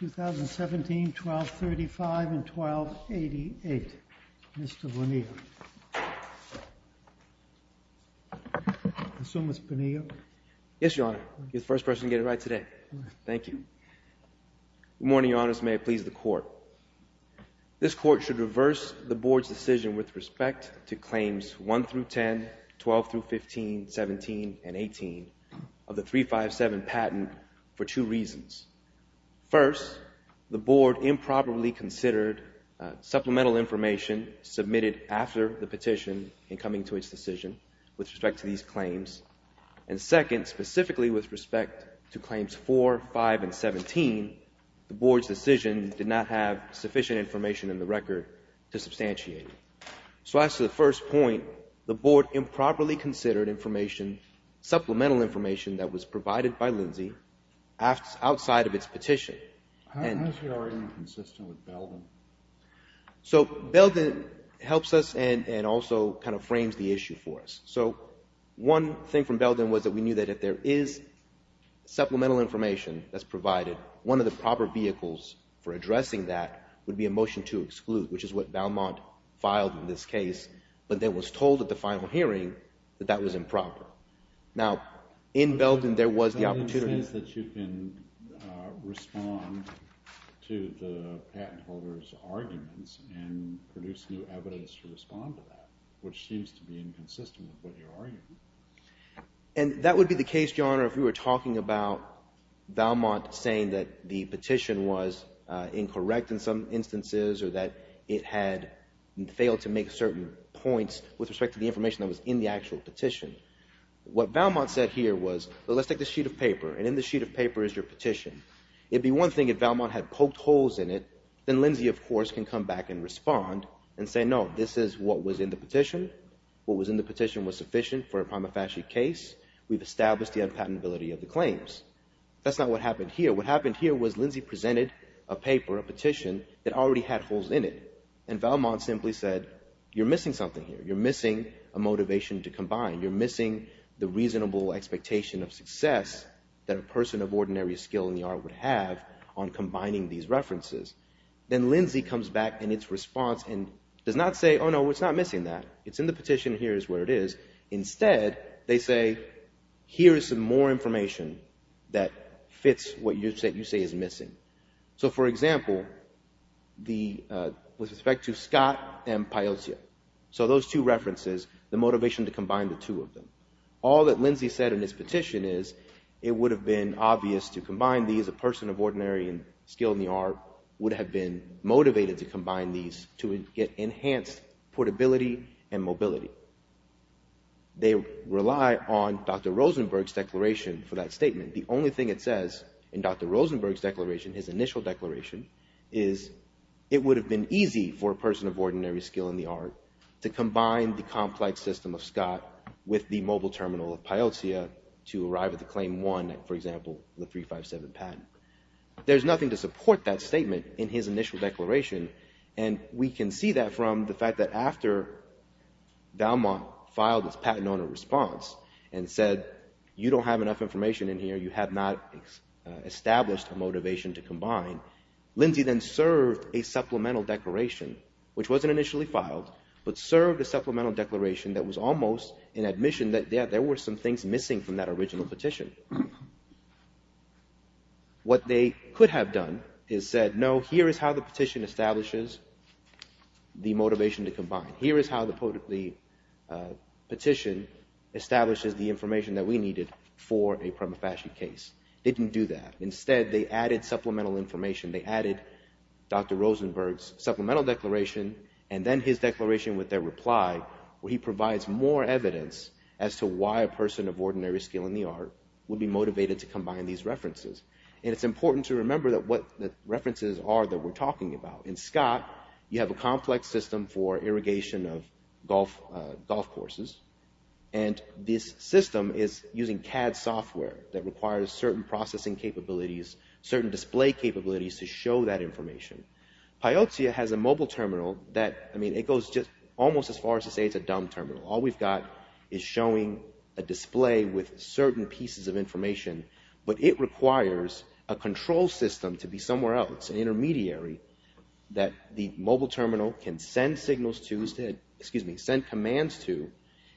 2017, 1235, and 1288. Mr. Bonilla, the second case is Valmont Industries v. Lindsay Corporation. So, Mr. Bonilla? Yes, Your Honor. You're the first person to get it right today. Thank you. Good morning, Your Honors. May it please the Court. This Court should reverse the Board's decision with respect to claims 1 through 10, 12 through 15, 17, and 18 of the 357 patent for two reasons. First, the Board improperly considered supplemental information submitted after the petition in coming to its decision with respect to these claims. And second, specifically with respect to claims 4, 5, and 17, the Board's decision did not have sufficient information in the record to substantiate it. So, as to the first point, the Board improperly considered supplemental information that was provided by Lindsay outside of its petition. How is your argument consistent with Belden? So, Belden helps us and also kind of frames the issue for us. So, one thing from Belden was that we knew that if there is supplemental information that's provided, one of the proper vehicles for addressing that would be a motion to exclude, which is what Valmont filed in this case, but then was told at the final hearing that that was improper. Now, in Belden, there was the opportunity— —to the patent holder's arguments and produce new evidence to respond to that, which seems to be inconsistent with what your argument is. And that would be the case, Your Honor, if we were talking about Valmont saying that the petition was incorrect in some instances or that it had failed to make certain points with respect to the information that was in the actual petition. What Valmont said here was, well, let's take this sheet of paper, and in this sheet of paper is your petition. It'd be one thing if Valmont had poked holes in it. Then Lindsay, of course, can come back and respond and say, no, this is what was in the petition. What was in the petition was sufficient for a prima facie case. We've established the unpatentability of the claims. That's not what happened here. What happened here was Lindsay presented a paper, a petition, that already had holes in it. And Valmont simply said, you're missing something here. You're missing a motivation to combine. You're missing the reasonable expectation of success that a person of ordinary skill in the art would have on combining these references. Then Lindsay comes back in its response and does not say, oh, no, it's not missing that. It's in the petition. Here is where it is. Instead, they say, here is some more information that fits what you say is missing. So, for example, with respect to Scott and Piotr, so those two references, the motivation to combine the two of them. All that Lindsay said in his petition is it would have been obvious to combine these. A person of ordinary skill in the art would have been motivated to combine these to get enhanced portability and mobility. They rely on Dr. Rosenberg's declaration for that statement. The only thing it says in Dr. Rosenberg's declaration, his initial declaration, is it would have been easy for a person of ordinary skill in the art to combine the complex system of Scott with the mobile terminal of Piotr to arrive at the claim one, for example, the 357 patent. There's nothing to support that statement in his initial declaration. And we can see that from the fact that after Valmont filed its patent owner response and said, you don't have enough information in here. You have not established a motivation to combine. Lindsay then served a supplemental declaration, which wasn't initially filed, but served a supplemental declaration that was almost an admission that there were some things missing from that original petition. What they could have done is said, no, here is how the petition establishes the motivation to combine. Here is how the petition establishes the information that we needed for a prima facie case. They didn't do that. Instead, they added supplemental information. They added Dr. Rosenberg's supplemental declaration and then his declaration with their reply, where he provides more evidence as to why a person of ordinary skill in the art would be motivated to combine these references. And it's important to remember that what the references are that we're talking about. In Scott, you have a complex system for irrigation of golf courses. And this system is using CAD software that requires certain processing capabilities, certain display capabilities to show that information. Piozzia has a mobile terminal that, I mean, it goes just almost as far as to say it's a dumb terminal. All we've got is showing a display with certain pieces of information. But it requires a control system to be somewhere else, an intermediary that the mobile terminal can send signals to, excuse me, send commands to.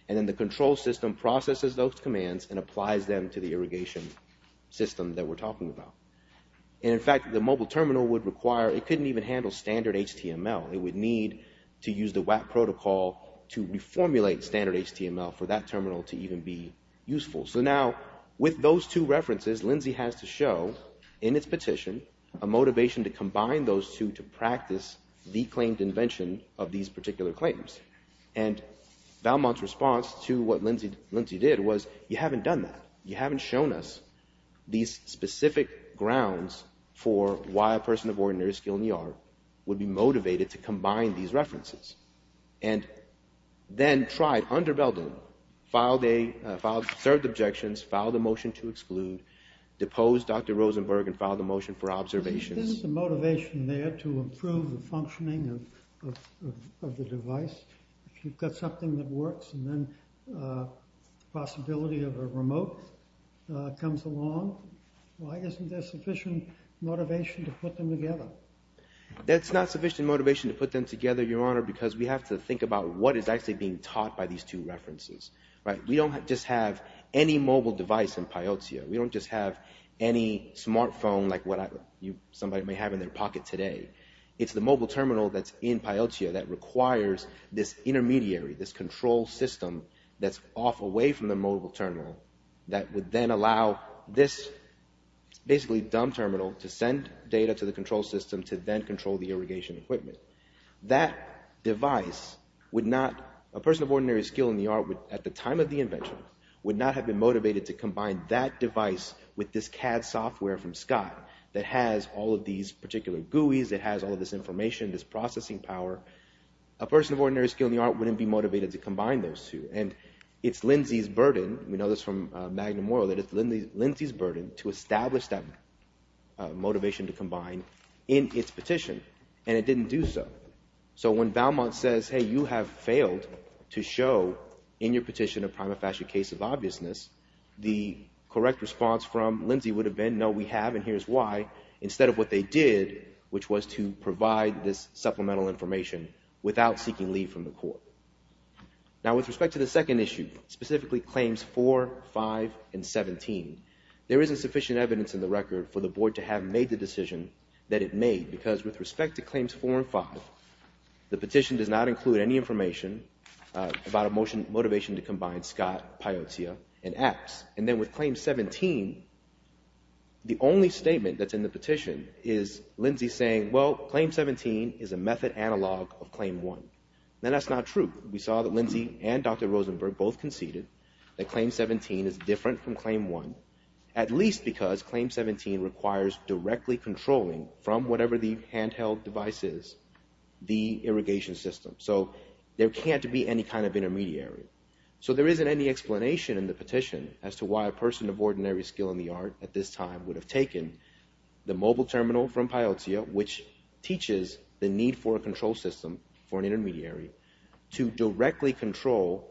And then the control system processes those commands and applies them to the irrigation system that we're talking about. And in fact, the mobile terminal would require, it couldn't even handle standard HTML. It would need to use the WAP protocol to reformulate standard HTML for that terminal to even be useful. So now with those two references, Lindsay has to show in its petition a motivation to combine those two to practice the claimed invention of these particular claims. And Valmont's response to what Lindsay did was, you haven't done that. You haven't shown us these specific grounds for why a person of ordinary skill in the art would be motivated to combine these references. And then tried under Belden, served objections, filed a motion to exclude, deposed Dr. Rosenberg and filed a motion for observations. Isn't the motivation there to improve the functioning of the device? If you've got something that works and then the possibility of a remote comes along, why isn't there sufficient motivation to put them together? That's not sufficient motivation to put them together, Your Honor, because we have to think about what is actually being taught by these two references. We don't just have any mobile device in Piozzia. We don't just have any smartphone like what somebody may have in their pocket today. It's the mobile terminal that's in Piozzia that requires this intermediary, this control system that's off away from the mobile terminal, that would then allow this basically dumb terminal to send data to the control system to then control the irrigation equipment. That device would not, a person of ordinary skill in the art at the time of the invention, would not have been motivated to combine that device with this CAD software from Scott that has all of these particular GUIs, that has all of this information, this processing power. A person of ordinary skill in the art wouldn't be motivated to combine those two. And it's Lindsay's burden, we know this from Magnum Moro, that it's Lindsay's burden to establish that motivation to combine in its petition. And it didn't do so. So when Valmont says, hey, you have failed to show in your petition a prima facie case of obviousness, the correct response from Lindsay would have been, no, we have, and here's why, instead of what they did, which was to provide this supplemental information without seeking leave from the court. Now, with respect to the second issue, specifically claims 4, 5, and 17, there isn't sufficient evidence in the record for the board to have made the decision that it made, because with respect to claims 4 and 5, the petition does not include any information about a motivation to combine Scott, Piotr, and X. And then with claim 17, the only statement that's in the petition is Lindsay saying, well, claim 17 is a method analog of claim 1. Now, that's not true. We saw that Lindsay and Dr. Rosenberg both conceded that claim 17 is different from claim 1, at least because claim 17 requires directly controlling from whatever the handheld device is, the irrigation system. So there can't be any kind of intermediary. So there isn't any explanation in the petition as to why a person of ordinary skill in the art at this time the mobile terminal from Piotr, which teaches the need for a control system for an intermediary, to directly control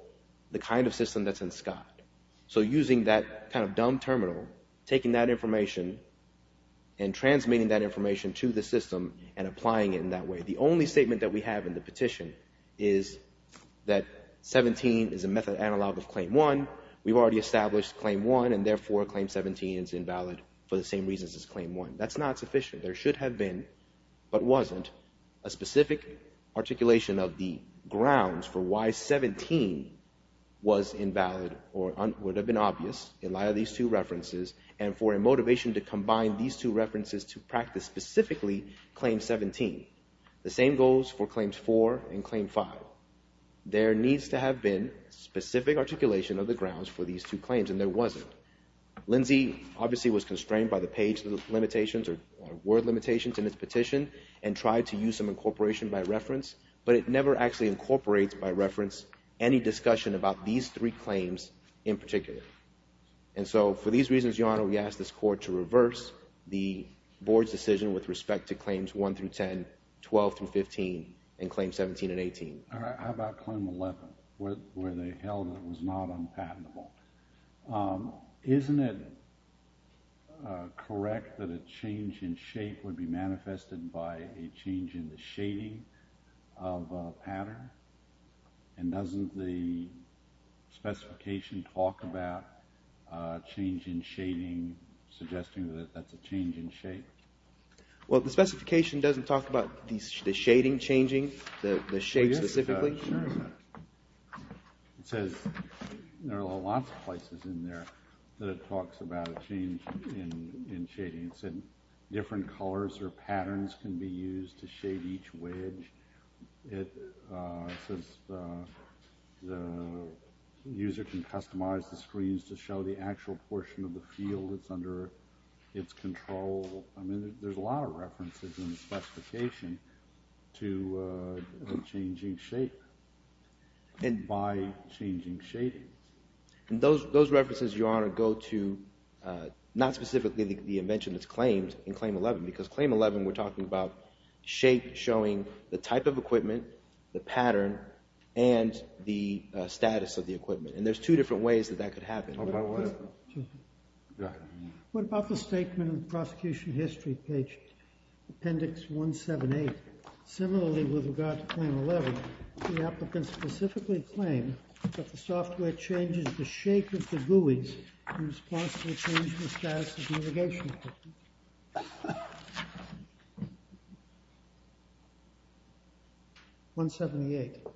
the kind of system that's in Scott. So using that kind of dumb terminal, taking that information and transmitting that information to the system and applying it in that way. The only statement that we have in the petition is that 17 is a method analog of claim 1. We've already established claim 1, and therefore claim 17 is invalid for the same reasons as claim 1. That's not sufficient. There should have been, but wasn't, a specific articulation of the grounds for why 17 was invalid or would have been obvious in light of these two references, and for a motivation to combine these two references to practice specifically claim 17. The same goes for claims 4 and claim 5. There needs to have been specific articulation of the grounds for these two claims, and there wasn't. Lindsay obviously was constrained by the page limitations or word limitations in his petition and tried to use some incorporation by reference, but it never actually incorporates by reference any discussion about these three claims in particular. And so for these reasons, Your Honor, we ask this Court to reverse the Board's decision with respect to claims 1 through 10, 12 through 15, and claims 17 and 18. How about claim 11 where they held it was not unpatentable? Isn't it correct that a change in shape would be manifested by a change in the shading of a pattern? And doesn't the specification talk about a change in shading suggesting that that's a change in shape? Well, the specification doesn't talk about the shading changing, the shape specifically. It says there are lots of places in there that it talks about a change in shading. It said different colors or patterns can be used to shade each wedge. It says the user can customize the screens to show the actual portion of the field that's under its control. I mean, there's a lot of references in the specification to changing shape by changing shading. And those references, Your Honor, go to not specifically the inventionist claims in claim 11 because claim 11 we're talking about shape showing the type of equipment, the pattern, and the status of the equipment. And there's two different ways that that could happen. What about the statement in the prosecution history page, appendix 178? Similarly, with regard to claim 11, the applicant specifically claimed that the software changes the shape of the GUIs in response to a change in the status of the irrigation system. 178,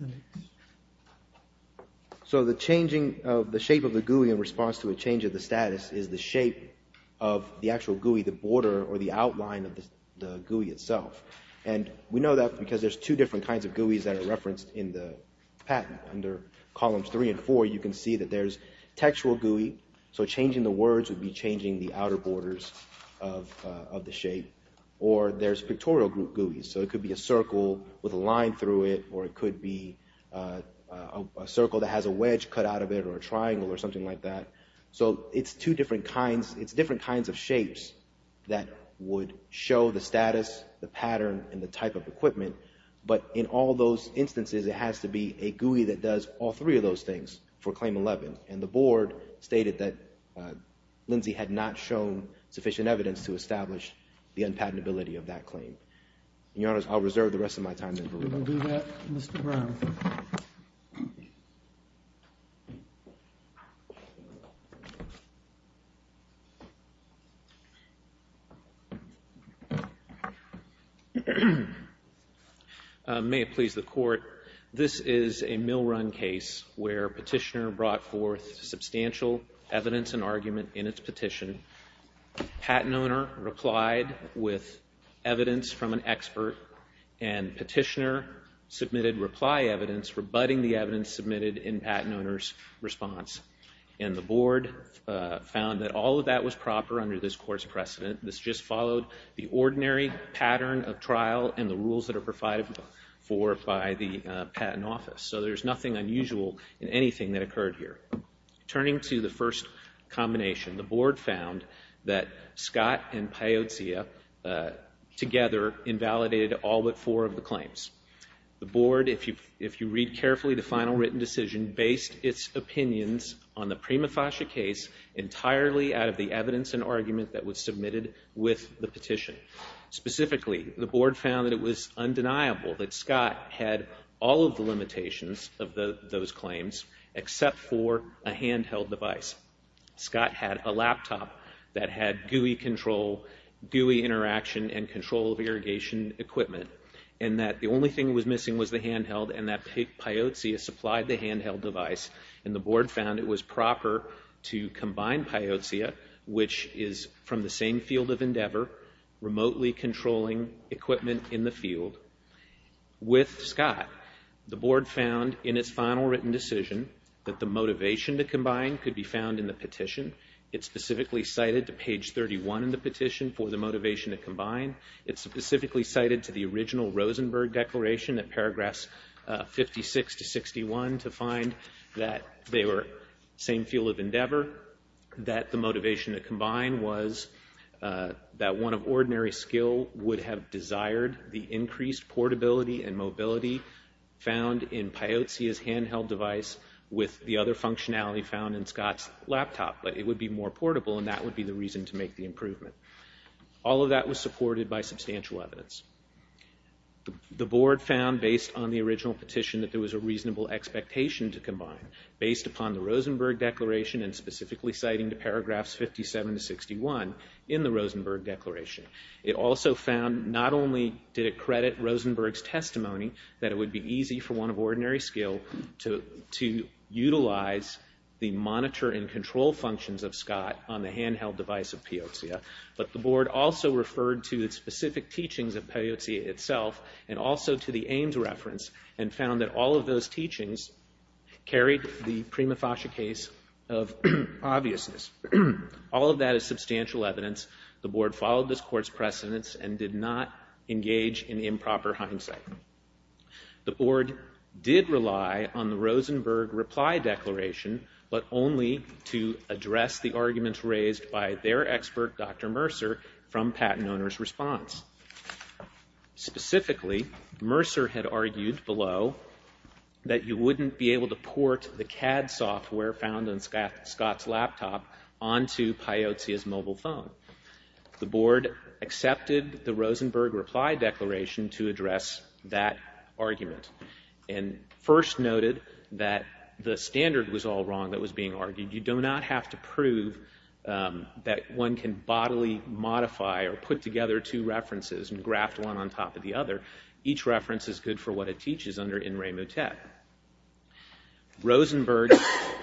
appendix. So the changing of the shape of the GUI in response to a change of the status is the shape of the actual GUI, the border or the outline of the GUI itself. And we know that because there's two different kinds of GUIs that are referenced in the patent. If you look at under columns three and four, you can see that there's textual GUI. So changing the words would be changing the outer borders of the shape. Or there's pictorial GUIs. So it could be a circle with a line through it, or it could be a circle that has a wedge cut out of it or a triangle or something like that. So it's two different kinds. It's different kinds of shapes that would show the status, the pattern, and the type of equipment. But in all those instances, it has to be a GUI that does all three of those things for claim 11. And the board stated that Lindsay had not shown sufficient evidence to establish the unpatentability of that claim. Your Honor, I'll reserve the rest of my time. Do that, Mr. Brown. May it please the court, this is a mill run case where petitioner brought forth substantial evidence and argument in its petition. Patent owner replied with evidence from an expert. And petitioner submitted reply evidence rebutting the evidence submitted in patent owner's response. And the board found that all of that was proper under this court's precedent. This just followed the ordinary pattern of trial and the rules that are provided for by the patent office. So there's nothing unusual in anything that occurred here. Turning to the first combination, the board found that Scott and Piozzia together invalidated all but four of the claims. The board, if you read carefully the final written decision, based its opinions on the Prima Fascia case entirely out of the evidence and argument that was submitted with the petition. Specifically, the board found that it was undeniable that Scott had all of the limitations of those claims except for a handheld device. Scott had a laptop that had GUI control, GUI interaction and control of irrigation equipment. And that the only thing that was missing was the handheld and that Piozzia supplied the handheld device. And the board found it was proper to combine Piozzia, which is from the same field of endeavor, remotely controlling equipment in the field, with Scott. The board found in its final written decision that the motivation to combine could be found in the petition. It's specifically cited to page 31 in the petition for the motivation to combine. It's specifically cited to the original Rosenberg declaration at paragraphs 56 to 61 to find that they were same field of endeavor. That the motivation to combine was that one of ordinary skill would have desired the increased portability and mobility found in Piozzia's handheld device with the other functionality found in Scott's laptop. But it would be more portable and that would be the reason to make the improvement. All of that was supported by substantial evidence. The board found based on the original petition that there was a reasonable expectation to combine. Based upon the Rosenberg declaration and specifically citing the paragraphs 57 to 61 in the Rosenberg declaration. It also found not only did it credit Rosenberg's testimony that it would be easy for one of ordinary skill to utilize the monitor and control functions of Scott on the handheld device of Piozzia. But the board also referred to the specific teachings of Piozzia itself and also to the Ames reference and found that all of those teachings carried the prima facie case of obviousness. All of that is substantial evidence. The board followed this court's precedence and did not engage in improper hindsight. The board did rely on the Rosenberg reply declaration but only to address the arguments raised by their expert Dr. Mercer from patent owner's response. Specifically, Mercer had argued below that you wouldn't be able to port the CAD software found in Scott's laptop onto Piozzia's mobile phone. The board accepted the Rosenberg reply declaration to address that argument. And first noted that the standard was all wrong that was being argued. You do not have to prove that one can bodily modify or put together two references and graft one on top of the other. Each reference is good for what it teaches under in Ray Motet. Rosenberg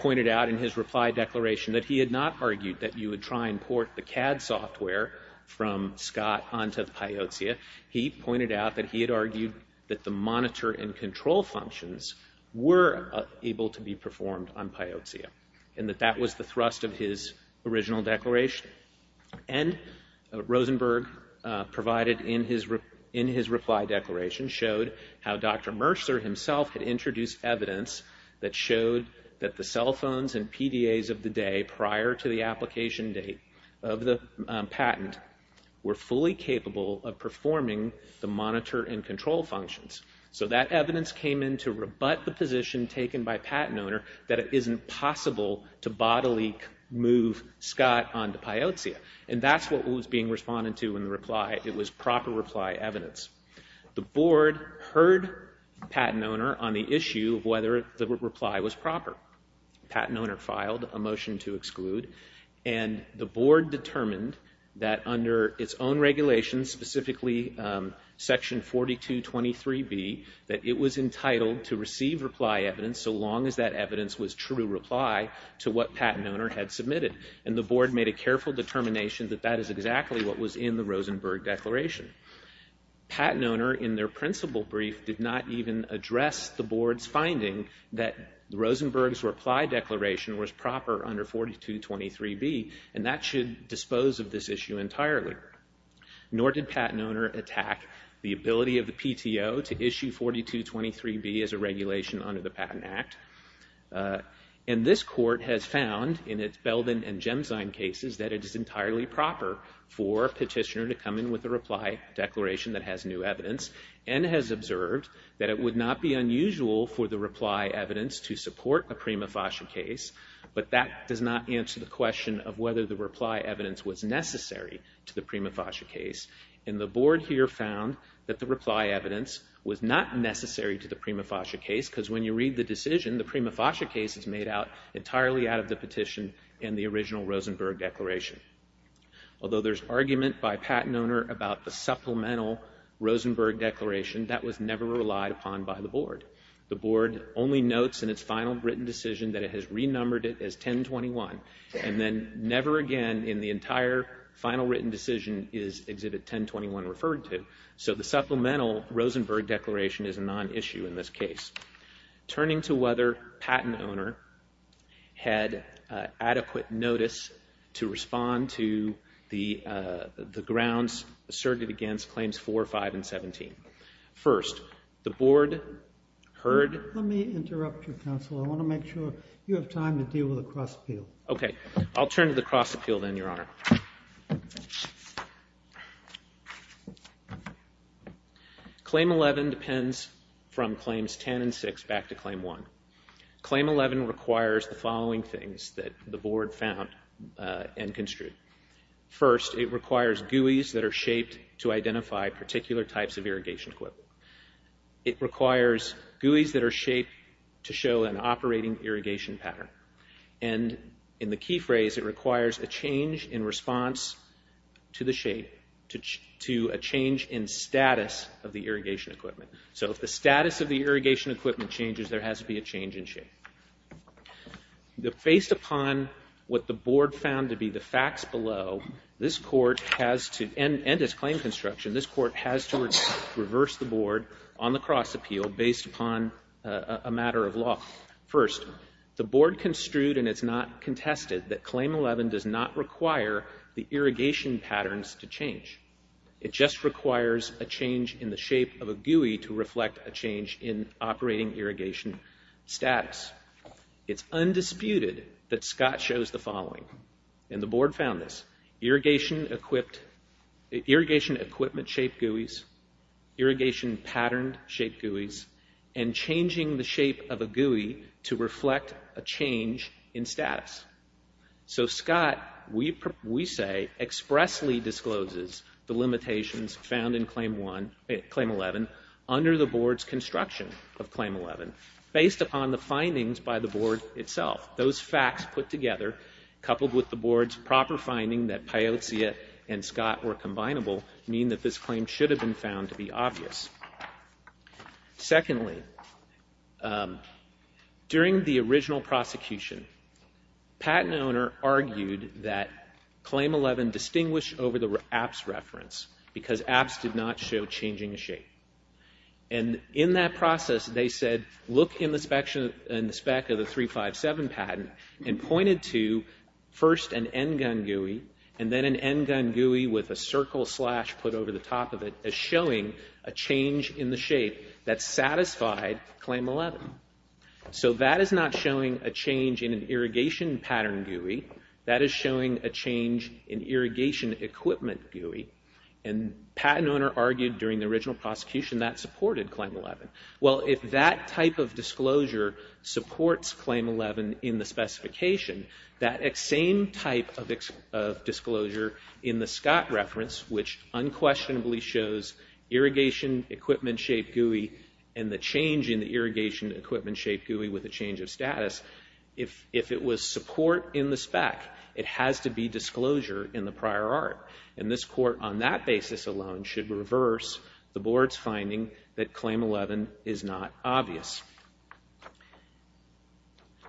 pointed out in his reply declaration that he had not argued that you would try and port the CAD software from Scott onto Piozzia. He pointed out that he had argued that the monitor and control functions were able to be performed on Piozzia. And that that was the thrust of his original declaration. And Rosenberg provided in his reply declaration showed how Dr. Mercer himself had introduced evidence that showed that the cell phones and PDAs of the day prior to the application date of the patent were fully capable of performing the monitor and control functions. So that evidence came in to rebut the position taken by Patent Owner that it isn't possible to bodily move Scott onto Piozzia. And that's what was being responded to in the reply. It was proper reply evidence. The board heard Patent Owner on the issue of whether the reply was proper. Patent Owner filed a motion to exclude. And the board determined that under its own regulations, specifically section 4223B, that it was entitled to receive reply evidence so long as that evidence was true reply to what Patent Owner had submitted. And the board made a careful determination that that is exactly what was in the Rosenberg declaration. Patent Owner, in their principal brief, did not even address the board's finding that Rosenberg's reply declaration was proper under 4223B. And that should dispose of this issue entirely. Nor did Patent Owner attack the ability of the PTO to issue 4223B as a regulation under the Patent Act. And this court has found in its Belden and Gemstein cases that it is entirely proper for a petitioner to come in with a reply declaration that has new evidence. And has observed that it would not be unusual for the reply evidence to support a prima facie case. But that does not answer the question of whether the reply evidence was necessary to the prima facie case. And the board here found that the reply evidence was not necessary to the prima facie case. Because when you read the decision, the prima facie case is made out entirely out of the petition and the original Rosenberg declaration. Although there's argument by Patent Owner about the supplemental Rosenberg declaration, that was never relied upon by the board. The board only notes in its final written decision that it has renumbered it as 1021. And then never again in the entire final written decision is Exhibit 1021 referred to. So the supplemental Rosenberg declaration is a non-issue in this case. Turning to whether Patent Owner had adequate notice to respond to the grounds asserted against Claims 4, 5, and 17. First, the board heard... Let me interrupt you, counsel. I want to make sure you have time to deal with the cross appeal. Okay. I'll turn to the cross appeal then, Your Honor. Claim 11 depends from Claims 10 and 6 back to Claim 1. Claim 11 requires the following things that the board found and construed. First, it requires GUIs that are shaped to identify particular types of irrigation equipment. It requires GUIs that are shaped to show an operating irrigation pattern. And in the key phrase, it requires a change in response to the shape, to a change in status of the irrigation equipment. So if the status of the irrigation equipment changes, there has to be a change in shape. Based upon what the board found to be the facts below, this court has to... And as claim construction, this court has to reverse the board on the cross appeal based upon a matter of law. First, the board construed and it's not contested that Claim 11 does not require the irrigation patterns to change. It just requires a change in the shape of a GUI to reflect a change in operating irrigation status. It's undisputed that Scott shows the following. And the board found this. Irrigation equipped... Irrigation equipment shaped GUIs, irrigation pattern shaped GUIs, and changing the shape of a GUI to reflect a change in status. So Scott, we say, expressly discloses the limitations found in Claim 11 under the board's construction of Claim 11, based upon the findings by the board itself. Those facts put together, coupled with the board's proper finding that Piozza and Scott were combinable, mean that this claim should have been found to be obvious. Secondly, during the original prosecution, patent owner argued that Claim 11 distinguished over the APPS reference, because APPS did not show changing shape. And in that process, they said, look in the spec of the 357 patent, and pointed to first an NGUN GUI, and then an NGUN GUI with a circle slash put over the top of it, as showing a change in the shape that satisfied Claim 11. So that is not showing a change in an irrigation pattern GUI. That is showing a change in irrigation equipment GUI. And patent owner argued during the original prosecution that supported Claim 11. Well, if that type of disclosure supports Claim 11 in the specification, that same type of disclosure in the Scott reference, which unquestionably shows irrigation equipment shape GUI, and the change in the irrigation equipment shape GUI with a change of status, if it was support in the spec, it has to be disclosure in the prior art. And this court, on that basis alone, should reverse the board's finding that Claim 11 is not obvious.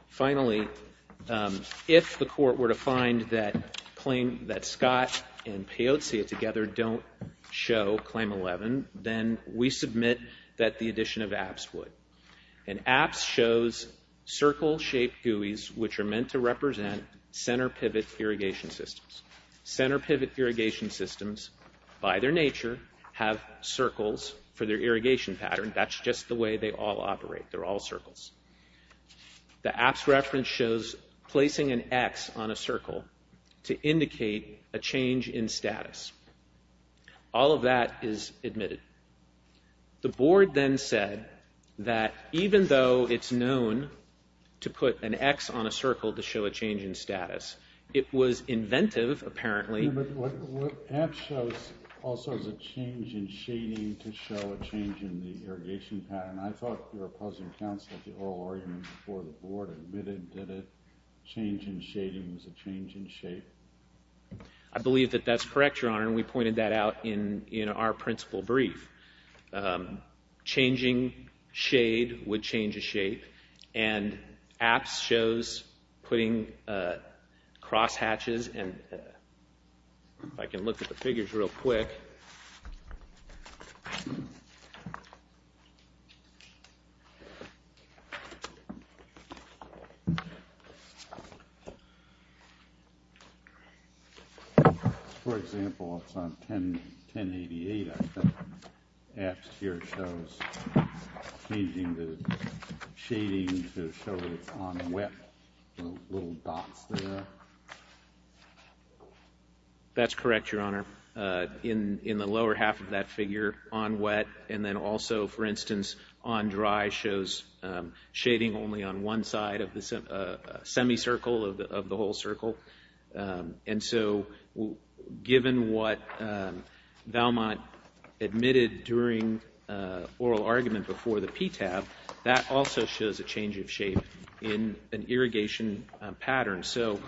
Finally, if the court were to find that Scott and Peozia together don't show Claim 11, then we submit that the addition of APPS would. And APPS shows circle-shaped GUIs, which are meant to represent center pivot irrigation systems. Center pivot irrigation systems, by their nature, have circles for their irrigation pattern. That's just the way they all operate. They're all circles. The APPS reference shows placing an X on a circle to indicate a change in status. All of that is admitted. The board then said that even though it's known to put an X on a circle to show a change in status, it was inventive, apparently. But what APPS shows also is a change in shading to show a change in the irrigation pattern. I thought your opposing counsel at the oral argument before the board admitted that a change in shading was a change in shape. I believe that that's correct, Your Honor, and we pointed that out in our principal brief. Changing shade would change a shape, and APPS shows putting crosshatches. If I can look at the figures real quick. For example, it's on 1088. APPS here shows changing the shading to show that it's on wet. That's correct, Your Honor. In the lower half of that figure, on wet, and then also, for instance, on dry, shows shading only on one side of the semicircle of the whole circle. And so given what Valmont admitted during oral argument before the PTAB, that also shows a change of shape in an irrigation pattern. So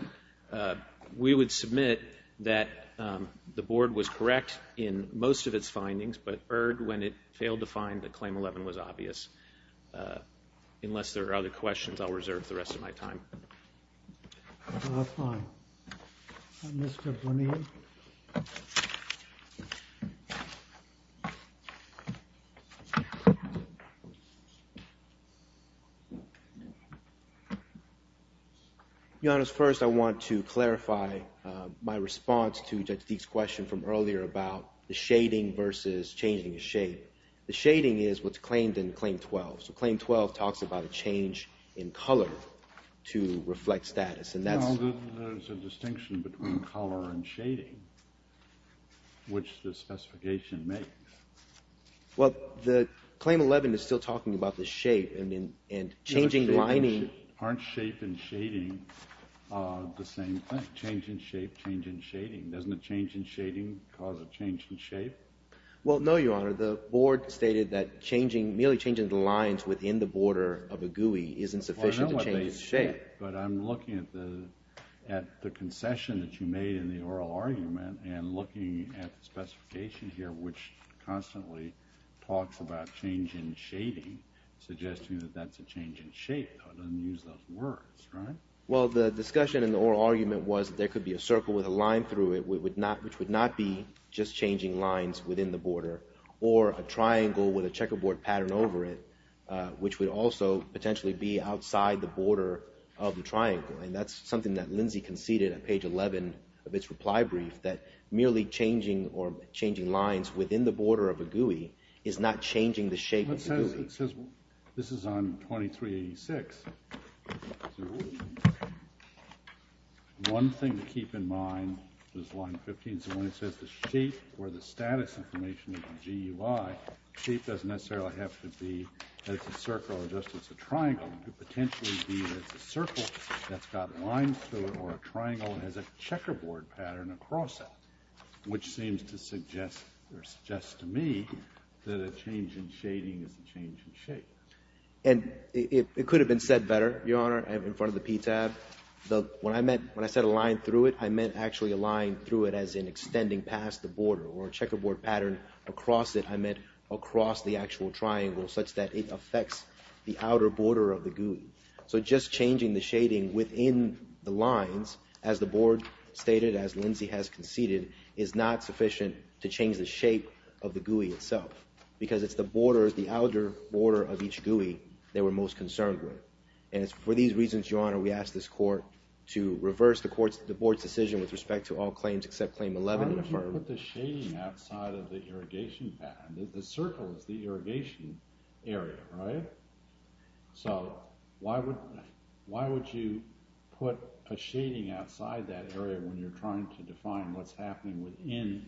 we would submit that the board was correct in most of its findings, but erred when it failed to find that Claim 11 was obvious. Unless there are other questions, I'll reserve the rest of my time. That's fine. Mr. Bonilla? Your Honor, first I want to clarify my response to Judge Deke's question from earlier about the shading versus changing the shape. The shading is what's claimed in Claim 12. So Claim 12 talks about a change in color to reflect status, and that's... Well, there's a distinction between color and shading, which the specification makes. Well, Claim 11 is still talking about the shape and changing lining... Aren't shape and shading the same thing? Change in shape, change in shading. Doesn't a change in shading cause a change in shape? Well, no, Your Honor. The board stated that merely changing the lines within the border of a gooey isn't sufficient to change its shape. Well, I know what they said, but I'm looking at the concession that you made in the oral argument and looking at the specification here, which constantly talks about change in shading, suggesting that that's a change in shape, though it doesn't use those words, right? Well, the discussion in the oral argument was that there could be a circle with a line through it, which would not be just changing lines within the border, or a triangle with a checkerboard pattern over it, which would also potentially be outside the border of the triangle. And that's something that Lindsay conceded on page 11 of its reply brief, that merely changing or changing lines within the border of a gooey is not changing the shape of the gooey. This is on 2386. One thing to keep in mind is line 15. So when it says the shape or the status information of the gooey, shape doesn't necessarily have to be that it's a circle or just it's a triangle. It could potentially be that it's a circle that's got lines through it, or a triangle that has a checkerboard pattern across it, which seems to suggest or suggests to me that a change in shading is a change in shape. And it could have been said better, Your Honor, in front of the PTAB. When I said a line through it, I meant actually a line through it as in extending past the border, or a checkerboard pattern across it, I meant across the actual triangle, such that it affects the outer border of the gooey. So just changing the shading within the lines, as the board stated, as Lindsay has conceded, is not sufficient to change the shape of the gooey itself, because it's the borders, the outer border of each gooey that we're most concerned with. And it's for these reasons, Your Honor, we ask this court to reverse the board's decision with respect to all claims except claim 11. Why would you put the shading outside of the irrigation pattern? The circle is the irrigation area, right? So why would you put a shading outside that area when you're trying to define what's happening within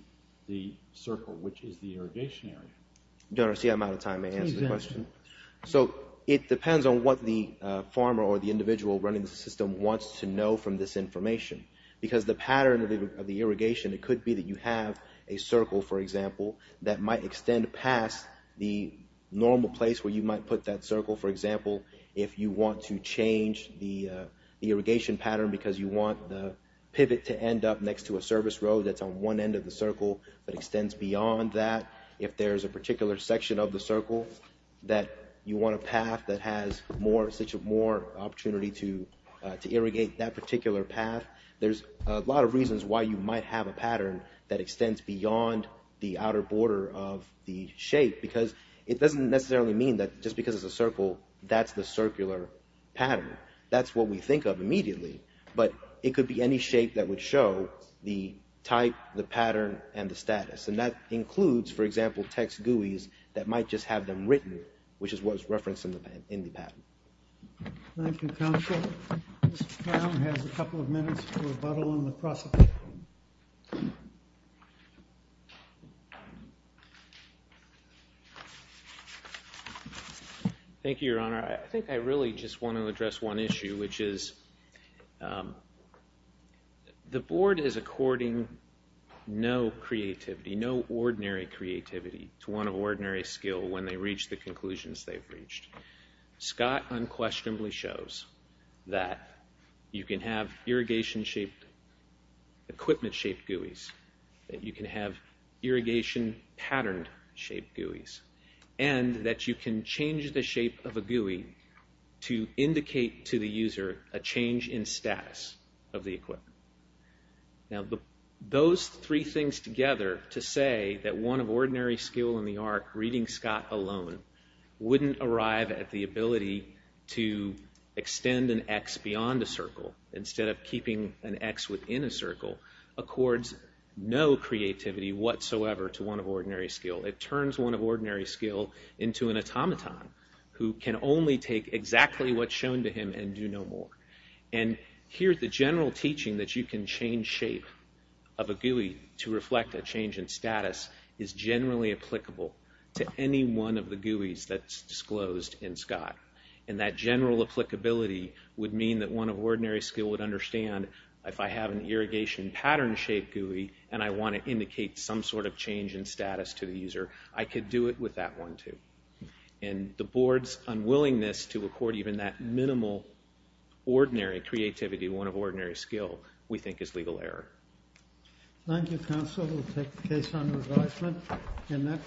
the circle, which is the irrigation area? Your Honor, see, I'm out of time to answer the question. So it depends on what the farmer or the individual running the system wants to know from this information. Because the pattern of the irrigation, it could be that you have a circle, for example, that might extend past the normal place where you might put that circle. For example, if you want to change the irrigation pattern because you want the pivot to end up next to a service road that's on one end of the circle that extends beyond that, if there's a particular section of the circle that you want a path that has such a more opportunity to irrigate that particular path, there's a lot of reasons why you might have a pattern that extends beyond the outer border of the shape. Because it doesn't necessarily mean that just because it's a circle, that's the circular pattern. That's what we think of immediately. But it could be any shape that would show the type, the pattern, and the status. And that includes, for example, text GUIs that might just have them written, which is what was referenced in the pattern. Thank you, counsel. Mr. Brown has a couple of minutes for rebuttal on the prosecution. Thank you, Your Honor. I think I really just want to address one issue, which is the board is according no creativity, no ordinary creativity to one of ordinary skill when they reach the conclusions they've reached. Scott unquestionably shows that you can have irrigation-shaped, equipment-shaped GUIs, that you can have irrigation-patterned-shaped GUIs, and that you can change the shape of a GUI to indicate to the user a change in status of the equipment. Now, those three things together to say that one of ordinary skill in the arc, reading Scott alone, wouldn't arrive at the ability to extend an X beyond a circle, instead of keeping an X within a circle, accords no creativity whatsoever to one of ordinary skill. It turns one of ordinary skill into an automaton who can only take exactly what's shown to him and do no more. And here the general teaching that you can change shape of a GUI to reflect a change in status is generally applicable to any one of the GUIs that's disclosed in Scott. And that general applicability would mean that one of ordinary skill would understand if I have an irrigation-pattern-shaped GUI and I want to indicate some sort of change in status to the user, I could do it with that one, too. And the board's unwillingness to accord even that minimal, ordinary creativity to one of ordinary skill, we think is legal error. Thank you, counsel. We'll take the case under advisement.